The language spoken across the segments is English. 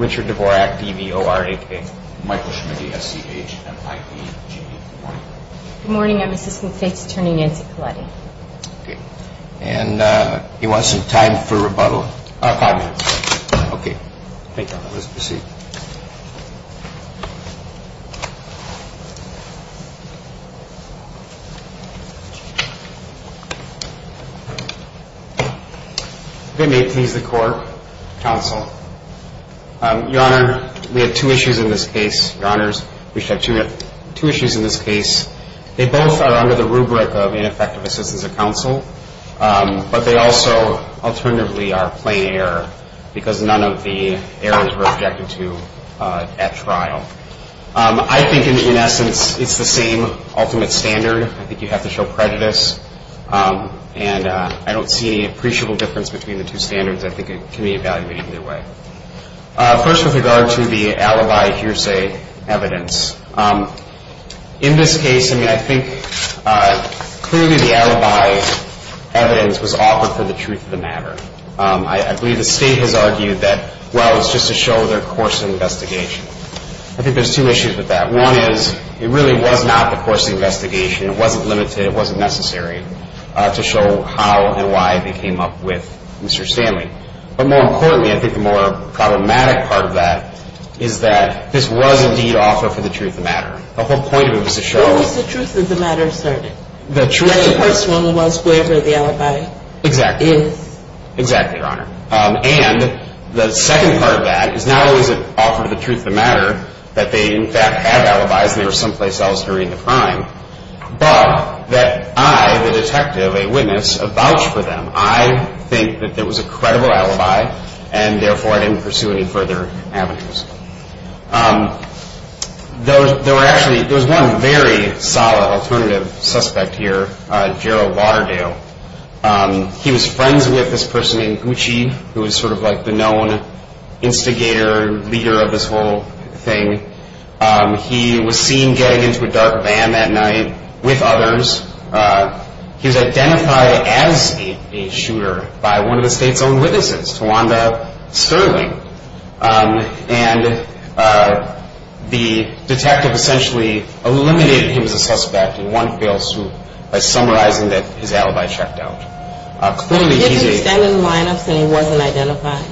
Richard Dvorak, D.V.O.R.A.K. Michael Schmidty, S.C.H.M.I.E.G. Good morning, I'm Assistant State's Attorney Nancy Colletti. And you want some time for rebuttal? Five minutes. Okay. Thank you. Let's proceed. If it may please the court, counsel. Your Honor, we have two issues in this case. They both are under the rubric of ineffective assistance of counsel. But they also alternatively are plain error because none of the errors were objected to at trial. I think in essence it's the same ultimate standard. I think you have to show prejudice. And I don't see any appreciable difference between the two standards. I think it can be evaluated either way. First with regard to the alibi hearsay evidence. In this case, I mean, I think clearly the alibi evidence was offered for the truth of the matter. I believe the state has argued that, well, it's just to show their course of investigation. I think there's two issues with that. One is it really was not the course of the investigation. It wasn't limited. It wasn't necessary to show how and why they came up with Mr. Stanley. But more importantly, I think the more problematic part of that is that this was indeed offered for the truth of the matter. The whole point of it was to show. It was the truth of the matter asserted. The truth of the matter. The person was whoever the alibi is. Exactly. Exactly, Your Honor. And the second part of that is not always an offer of the truth of the matter, that they in fact had alibis and they were someplace else during the crime, but that I, the detective, a witness, have vouched for them. I think that there was a credible alibi and, therefore, I didn't pursue any further avenues. There was one very solid alternative suspect here, Gerald Waterdale. He was friends with this person named Gucci, who was sort of like the known instigator, leader of this whole thing. He was seen getting into a dark van that night with others. He was identified as a shooter by one of the state's own witnesses, Tawanda Sterling, and the detective essentially eliminated him as a suspect in one fell swoop by summarizing that his alibi checked out. Clearly, he's a- Did he stand in line and say he wasn't identified?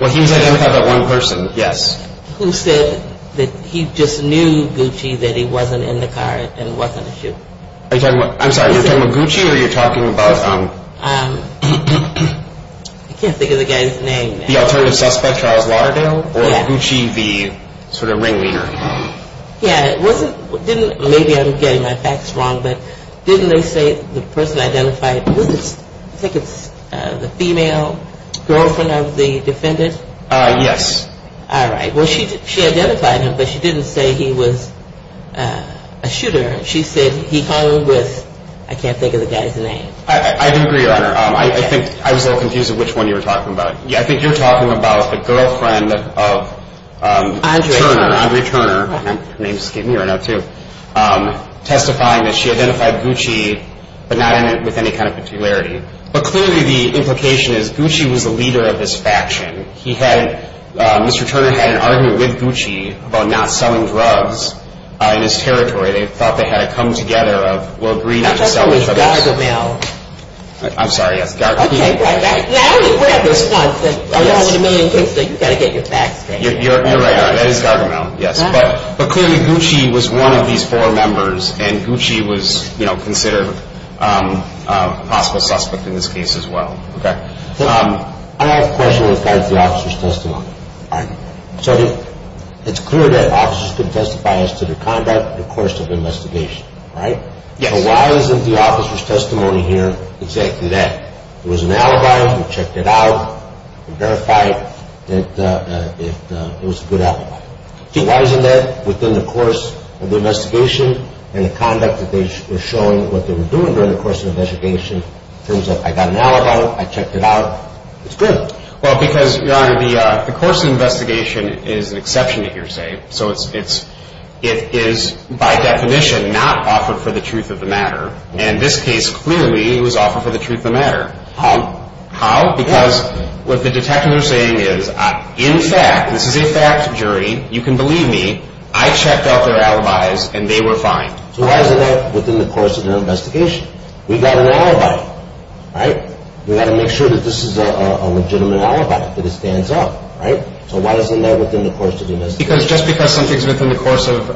Well, he was identified by one person, yes. Who said that he just knew Gucci, that he wasn't in the car and wasn't a shooter? I'm sorry, you're talking about Gucci or you're talking about- I can't think of the guy's name. The alternative suspect, Charles Waterdale? Yeah. Or Gucci, the sort of ringleader? Yeah, it wasn't, maybe I'm getting my facts wrong, but didn't they say the person identified, was it, I think it's the female girlfriend of the defendant? Yes. All right. Well, she identified him, but she didn't say he was a shooter. She said he called with, I can't think of the guy's name. I do agree, Your Honor. I think I was a little confused of which one you were talking about. I think you're talking about the girlfriend of- Andre Turner. Andre Turner. Her name just came to me right now, too. Testifying that she identified Gucci, but not with any kind of particularity. But clearly, the implication is Gucci was the leader of this faction. He had, Mr. Turner had an argument with Gucci about not selling drugs in his territory. They thought they had a come together of, well, agreed not to sell drugs. That's always Gargamel. I'm sorry, yes, Gargamel. Okay, right. Now we're at a response that, you know, with a million kids, you've got to get your facts straight. You're right, Your Honor. That is Gargamel, yes. But clearly, Gucci was one of these four members, and Gucci was considered a possible suspect in this case as well. Okay. I have a question with regards to the officer's testimony. All right. So it's clear that officers can testify as to their conduct in the course of the investigation, right? Yes. So why isn't the officer's testimony here exactly that? It was an alibi. We checked it out. We verified that it was a good alibi. Why isn't that within the course of the investigation and the conduct that they were showing, what they were doing during the course of the investigation, proves that I got an alibi, I checked it out, it's good? Well, because, Your Honor, the course of the investigation is an exception, you're saying. So it is by definition not offered for the truth of the matter. In this case, clearly, it was offered for the truth of the matter. How? How? Because what the detective is saying is, in fact, this is a fact, jury, you can believe me, I checked out their alibis, and they were fine. So why isn't that within the course of their investigation? We got an alibi, right? We got to make sure that this is a legitimate alibi, that it stands up, right? So why isn't that within the course of the investigation? Because just because something's within the course of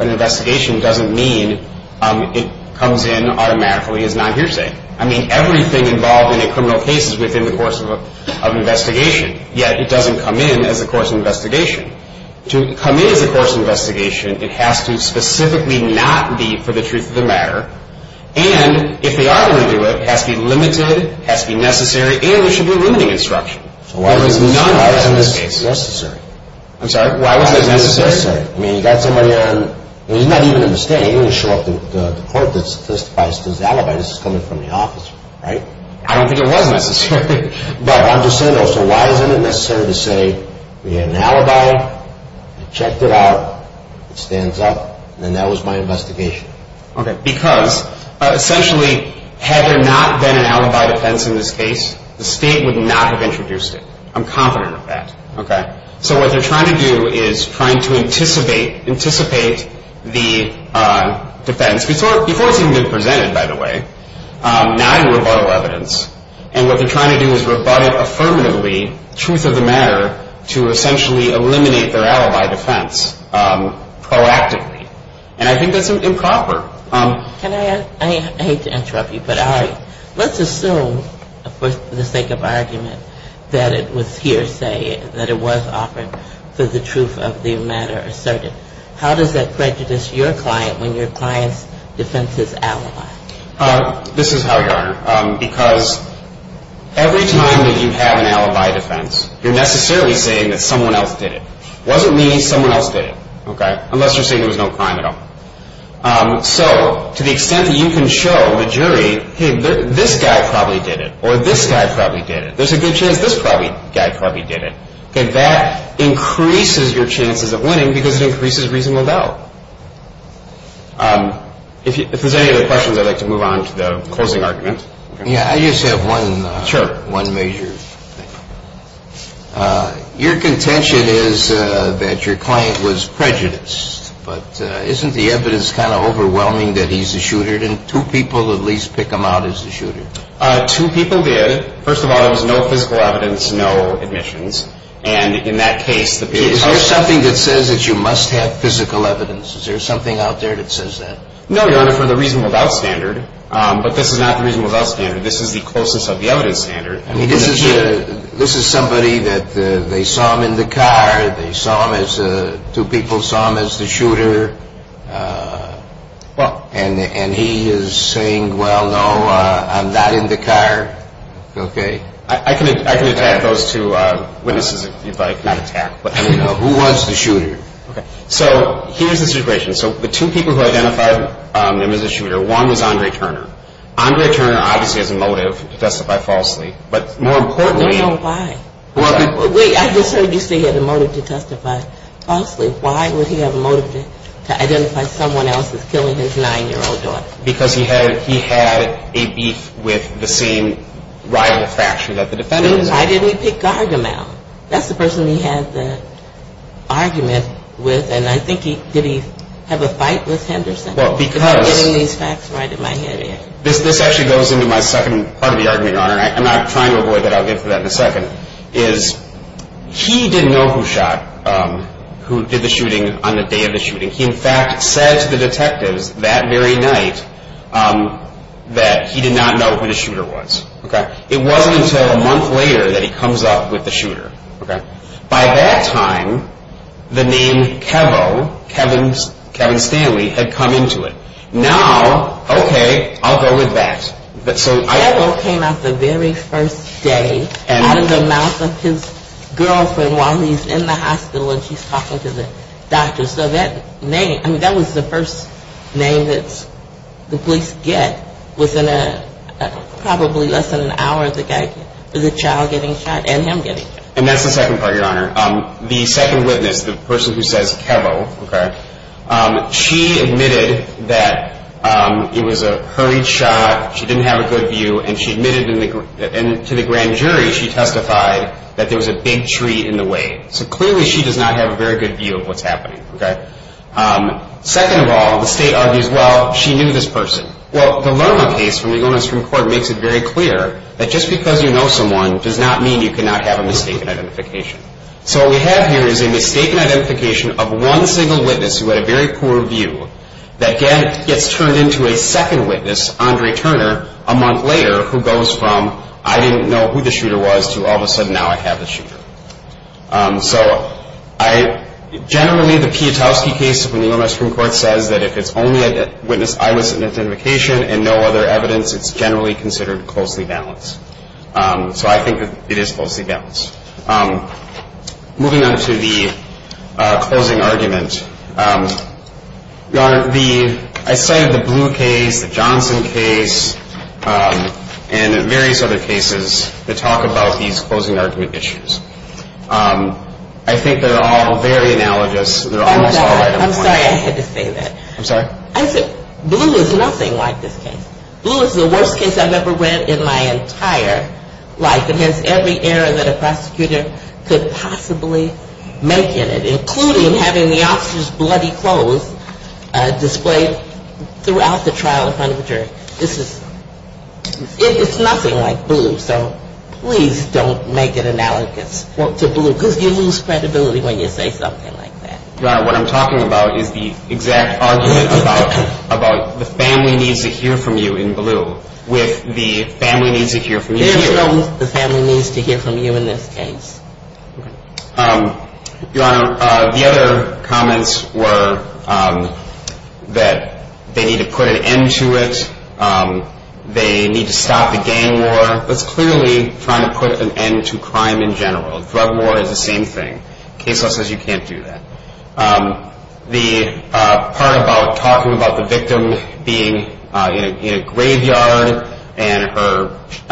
an investigation doesn't mean it comes in automatically as non-hearsay. I mean, everything involved in a criminal case is within the course of an investigation, yet it doesn't come in as a course of investigation. To come in as a course of investigation, it has to specifically not be for the truth of the matter, and if they are going to do it, it has to be limited, it has to be necessary, and there should be a ruling instruction. So why isn't this necessary? I'm sorry, why wasn't this necessary? I mean, you got somebody on, I mean, it's not even a mistake. You didn't show up to the court that testifies to his alibi. This is coming from the office, right? I don't think it was necessary. But I'm just saying, though, so why isn't it necessary to say we had an alibi, we checked it out, it stands up, and that was my investigation? Okay, because essentially had there not been an alibi defense in this case, the state would not have introduced it. I'm confident of that, okay? So what they're trying to do is trying to anticipate the defense, before it's even been presented, by the way, now in rebuttal evidence. And what they're trying to do is rebut it affirmatively, truth of the matter, to essentially eliminate their alibi defense proactively. And I think that's improper. Can I ask, I hate to interrupt you, but let's assume, for the sake of argument, that it was hearsay, that it was offered for the truth of the matter asserted. This is how, Your Honor, because every time that you have an alibi defense, you're necessarily saying that someone else did it. It wasn't me, someone else did it, unless you're saying there was no crime at all. So to the extent that you can show the jury, hey, this guy probably did it, or this guy probably did it, there's a good chance this guy probably did it, that increases your chances of winning because it increases reasonable doubt. If there's any other questions, I'd like to move on to the closing argument. Yeah, I just have one major thing. Your contention is that your client was prejudiced. But isn't the evidence kind of overwhelming that he's a shooter? Didn't two people at least pick him out as a shooter? Two people did. First of all, there was no physical evidence, no admissions. And in that case, the period of time... Is there something out there that says that? No, Your Honor, for the reasonable doubt standard. But this is not the reasonable doubt standard. This is the closest of the evidence standard. This is somebody that they saw him in the car, two people saw him as the shooter, and he is saying, well, no, I'm not in the car. Okay. I can attack those two witnesses if you'd like. Not attack. Who was the shooter? Okay. So here's the situation. So the two people who identified him as a shooter, one was Andre Turner. Andre Turner obviously has a motive to testify falsely. But more importantly... I don't know why. Wait, I just heard you say he had a motive to testify falsely. Why would he have a motive to identify someone else as killing his 9-year-old daughter? Because he had a beef with the same rival faction that the defendant is in. Then why didn't he pick Gardner out? That's the person he had the argument with. And I think did he have a fight with Henderson? Well, because... Because I'm getting these facts right in my head here. This actually goes into my second part of the argument, Your Honor, and I'm not trying to avoid that. I'll get to that in a second, is he didn't know who shot, who did the shooting on the day of the shooting. He, in fact, said to the detectives that very night that he did not know who the shooter was. It wasn't until a month later that he comes up with the shooter. By that time, the name Kevo, Kevin Stanley, had come into it. Now, okay, I'll go with that. Kevo came out the very first day out of the mouth of his girlfriend while he's in the hospital and he's talking to the doctor. So that name, I mean, that was the first name that the police get within probably less than an hour of the child getting shot and him getting shot. And that's the second part, Your Honor. The second witness, the person who says Kevo, she admitted that it was a hurried shot, she didn't have a good view, and she admitted to the grand jury, she testified that there was a big tree in the way. So clearly she does not have a very good view of what's happening. Second of all, the state argues, well, she knew this person. Well, the Lerma case from the Illinois Supreme Court makes it very clear that just because you know someone does not mean you cannot have a mistaken identification. So what we have here is a mistaken identification of one single witness who had a very poor view that gets turned into a second witness, Andre Turner, a month later, who goes from I didn't know who the shooter was to all of a sudden now I have the shooter. So generally the Pietowski case from the Illinois Supreme Court says that if it's only a witness eyewitness identification and no other evidence, it's generally considered closely balanced. So I think it is closely balanced. Moving on to the closing argument. Your Honor, I cited the Blue case, the Johnson case, and various other cases that talk about these closing argument issues. I think they're all very analogous. Oh, God, I'm sorry I had to say that. I'm sorry? I said Blue is nothing like this case. Blue is the worst case I've ever read in my entire life. It has every error that a prosecutor could possibly make in it, including having the officer's bloody clothes displayed throughout the trial in front of a jury. It's nothing like Blue, so please don't make it analogous to Blue because you lose credibility when you say something like that. Your Honor, what I'm talking about is the exact argument about the family needs to hear from you in Blue with the family needs to hear from you here. There's no the family needs to hear from you in this case. Your Honor, the other comments were that they need to put an end to it, they need to stop the gang war. That's clearly trying to put an end to crime in general. Drug war is the same thing. Case law says you can't do that. The part about talking about the victim being in a graveyard and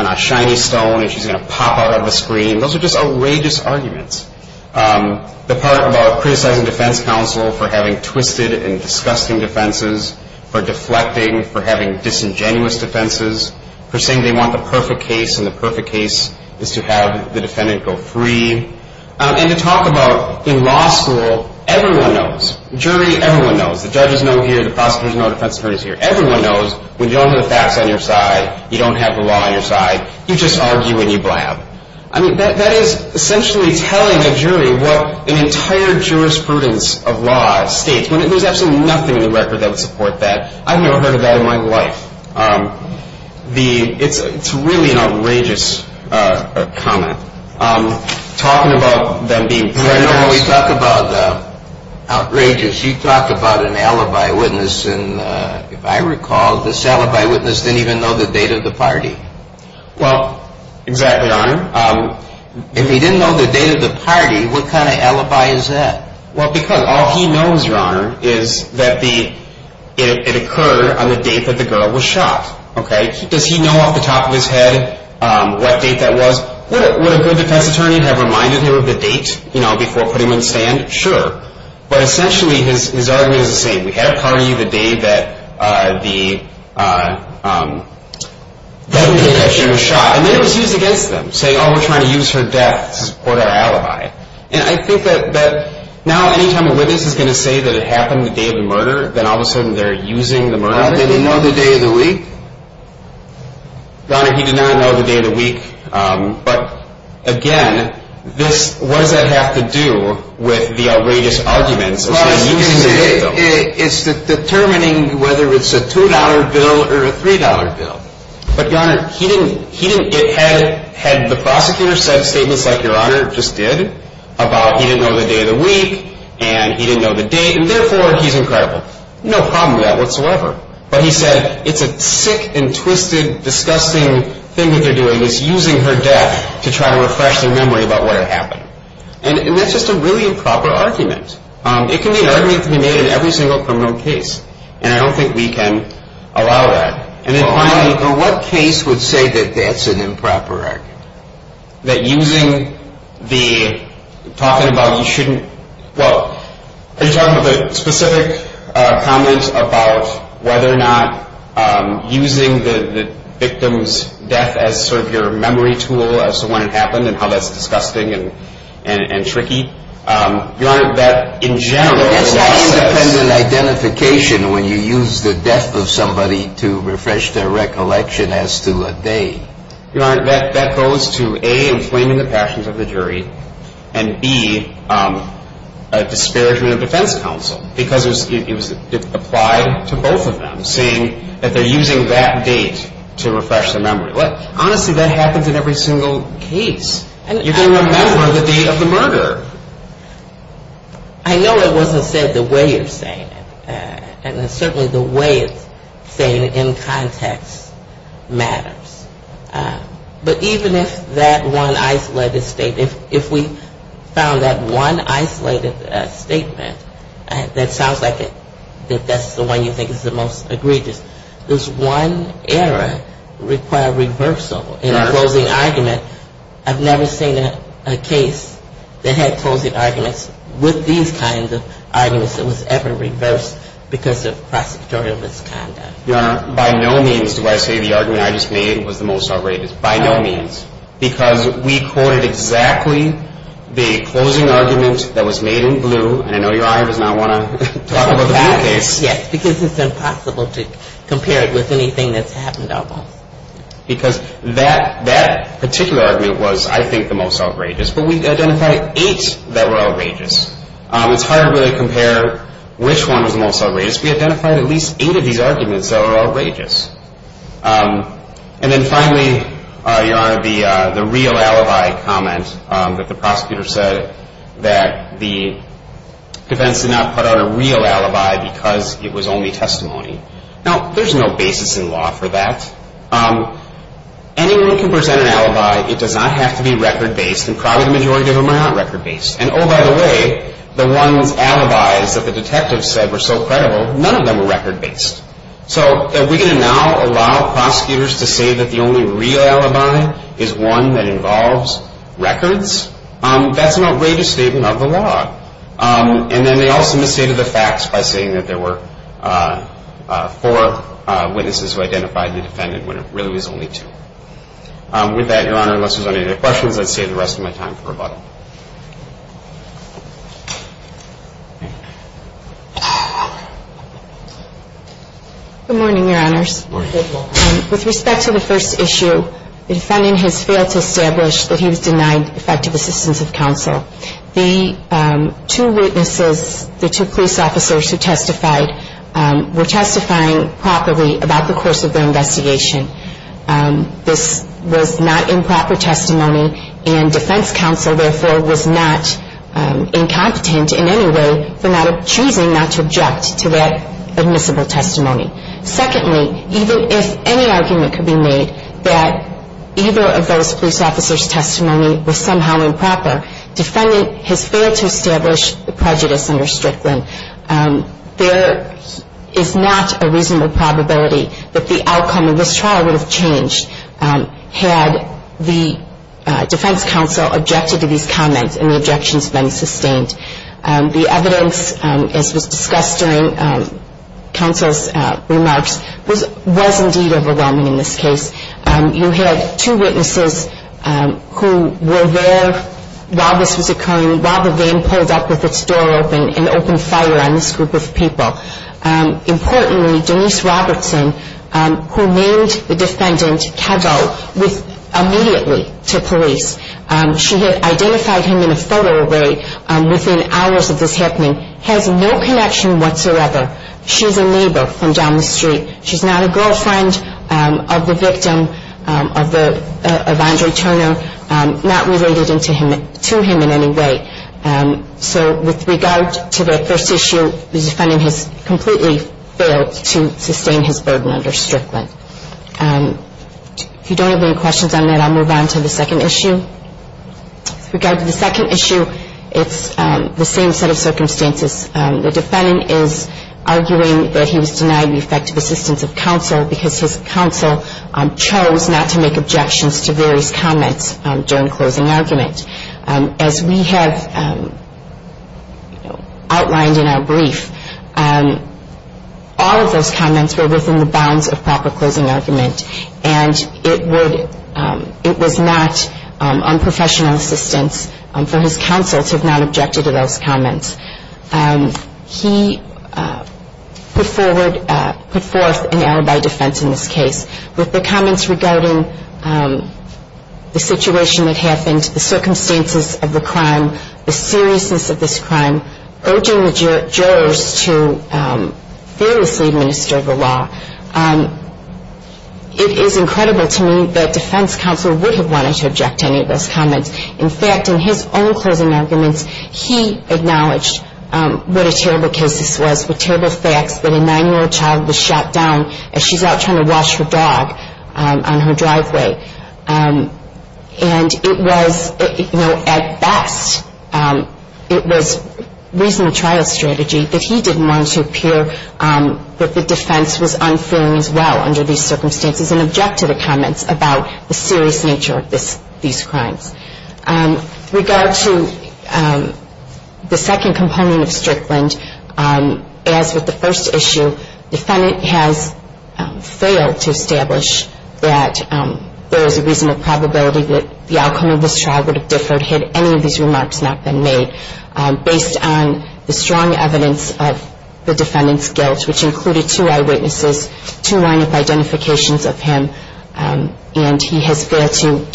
a shiny stone and she's going to pop out of a screen, those are just outrageous arguments. The part about criticizing defense counsel for having twisted and disgusting defenses, for deflecting, for having disingenuous defenses, for saying they want the perfect case and the perfect case is to have the defendant go free. And to talk about in law school, everyone knows, jury, everyone knows, the judges know here, the prosecutors know, defense attorneys know here, everyone knows when you don't have the facts on your side, you don't have the law on your side, you just argue and you blab. I mean, that is essentially telling a jury what an entire jurisprudence of law states, when there's absolutely nothing in the record that would support that. I've never heard of that in my life. It's really an outrageous comment. Talking about them being criminals. No, no, we talk about outrageous, you talk about an alibi witness, and if I recall, this alibi witness didn't even know the date of the party. Well, exactly, your honor. If he didn't know the date of the party, what kind of alibi is that? Well, because all he knows, your honor, is that it occurred on the date that the girl was shot. Does he know off the top of his head what date that was? Would a good defense attorney have reminded him of the date before putting him in the stand? Sure. But essentially, his argument is the same. We had a party the day that the girl was shot. And then it was used against them, saying, oh, we're trying to use her death to support our alibi. And I think that now any time a witness is going to say that it happened the day of the murder, then all of a sudden they're using the murder. Your honor, they didn't know the day of the week? Your honor, he did not know the day of the week. But, again, what does that have to do with the outrageous arguments? It's determining whether it's a $2 bill or a $3 bill. But, your honor, he didn't get ahead. Had the prosecutor said statements like your honor just did about he didn't know the day of the week and he didn't know the date and, therefore, he's incredible? No problem with that whatsoever. But he said it's a sick and twisted, disgusting thing that they're doing is using her death to try to refresh their memory about what had happened. And that's just a really improper argument. It can be an argument that can be made in every single criminal case. And I don't think we can allow that. And then, finally, what case would say that that's an improper argument? That using the talking about you shouldn't, well, are you talking about the specific comment about whether or not using the victim's death as sort of your memory tool as to when it happened and how that's disgusting and tricky? Your honor, that in general. It's not independent identification when you use the death of somebody to refresh their recollection as to a day. Your honor, that goes to, A, inflaming the passions of the jury, and, B, a disparagement of defense counsel because it was applied to both of them, saying that they're using that date to refresh their memory. Honestly, that happens in every single case. You can remember the date of the murder. I know it wasn't said the way you're saying it. And certainly the way it's said in context matters. But even if that one isolated statement, if we found that one isolated statement, that sounds like that's the one you think is the most egregious, does one error require reversal in a closing argument? I've never seen a case that had closing arguments with these kinds of arguments that was ever reversed because of prosecutorial misconduct. Your honor, by no means do I say the argument I just made was the most outrageous. By no means. Because we quoted exactly the closing argument that was made in blue, and I know your honor does not want to talk about the blue case. Yes, because it's impossible to compare it with anything that's happened to us. Because that particular argument was, I think, the most outrageous. But we identified eight that were outrageous. It's hard to really compare which one was the most outrageous. We identified at least eight of these arguments that were outrageous. And then finally, your honor, the real alibi comment that the prosecutor said that the defense did not put out a real alibi because it was only testimony. Now, there's no basis in law for that. Anyone can present an alibi. It does not have to be record-based, and probably the majority of them are not record-based. And, oh, by the way, the ones alibis that the detectives said were so credible, none of them were record-based. So are we going to now allow prosecutors to say that the only real alibi is one that involves records? That's an outrageous statement of the law. And then they also misstated the facts by saying that there were four witnesses who identified the defendant when it really was only two. With that, your honor, unless there's any other questions, I'd save the rest of my time for rebuttal. Good morning, your honors. Good morning. With respect to the first issue, the defendant has failed to establish that he was denied effective assistance of counsel. The two witnesses, the two police officers who testified, were testifying properly about the course of their investigation. This was not improper testimony, and defense counsel, therefore, was not incompetent in any way for choosing not to object to that admissible testimony. Secondly, even if any argument could be made that either of those police officers' testimony was somehow improper, defendant has failed to establish the prejudice under Strickland. There is not a reasonable probability that the outcome of this trial would have changed had the defense counsel objected to these comments and the objections been sustained. The evidence, as was discussed during counsel's remarks, was indeed overwhelming in this case. You had two witnesses who were there while this was occurring, while the game pulled up with its door open and opened fire on this group of people. Importantly, Denise Robertson, who named the defendant Keddo, was immediately to police. She had identified him in a photo array within hours of this happening, has no connection whatsoever. She's a neighbor from down the street. She's not a girlfriend of the victim, of Andre Turner, not related to him in any way. So with regard to the first issue, the defendant has completely failed to sustain his burden under Strickland. If you don't have any questions on that, I'll move on to the second issue. With regard to the second issue, it's the same set of circumstances. The defendant is arguing that he was denied the effective assistance of counsel because his counsel chose not to make objections to various comments during closing argument. As we have outlined in our brief, all of those comments were within the bounds of proper closing argument, and it was not on professional assistance for his counsel to have not objected to those comments. He put forth an alibi defense in this case. With the comments regarding the situation that happened, the circumstances of the crime, the seriousness of this crime, urging the jurors to fearlessly administer the law, it is incredible to me that defense counsel would have wanted to object to any of those comments. In fact, in his own closing arguments, he acknowledged what a terrible case this was, with terrible facts that a nine-year-old child was shot down as she's out trying to wash her dog on her driveway. And it was, you know, at best, it was reasonable trial strategy that he didn't want to appear, but the defense was unfeeling as well under these circumstances and objected to comments about the serious nature of these crimes. With regard to the second component of Strickland, as with the first issue, the defendant has failed to establish that there is a reasonable probability that the outcome of this trial would have differed had any of these remarks not been made. Based on the strong evidence of the defendant's guilt, which included two eyewitnesses, two line-of-identifications of him, and he has failed to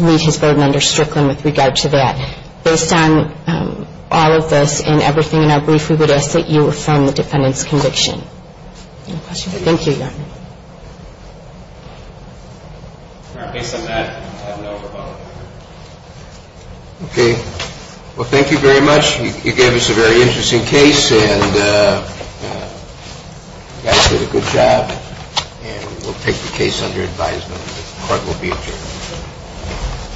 meet his burden under Strickland with regard to that. Based on all of this and everything in our brief, we would ask that you affirm the defendant's conviction. Any questions? Thank you, Your Honor. Based on that, I have no further comment. Okay. Well, thank you very much. You gave us a very interesting case, and you guys did a good job. And we'll take the case under advisement. The court will be adjourned.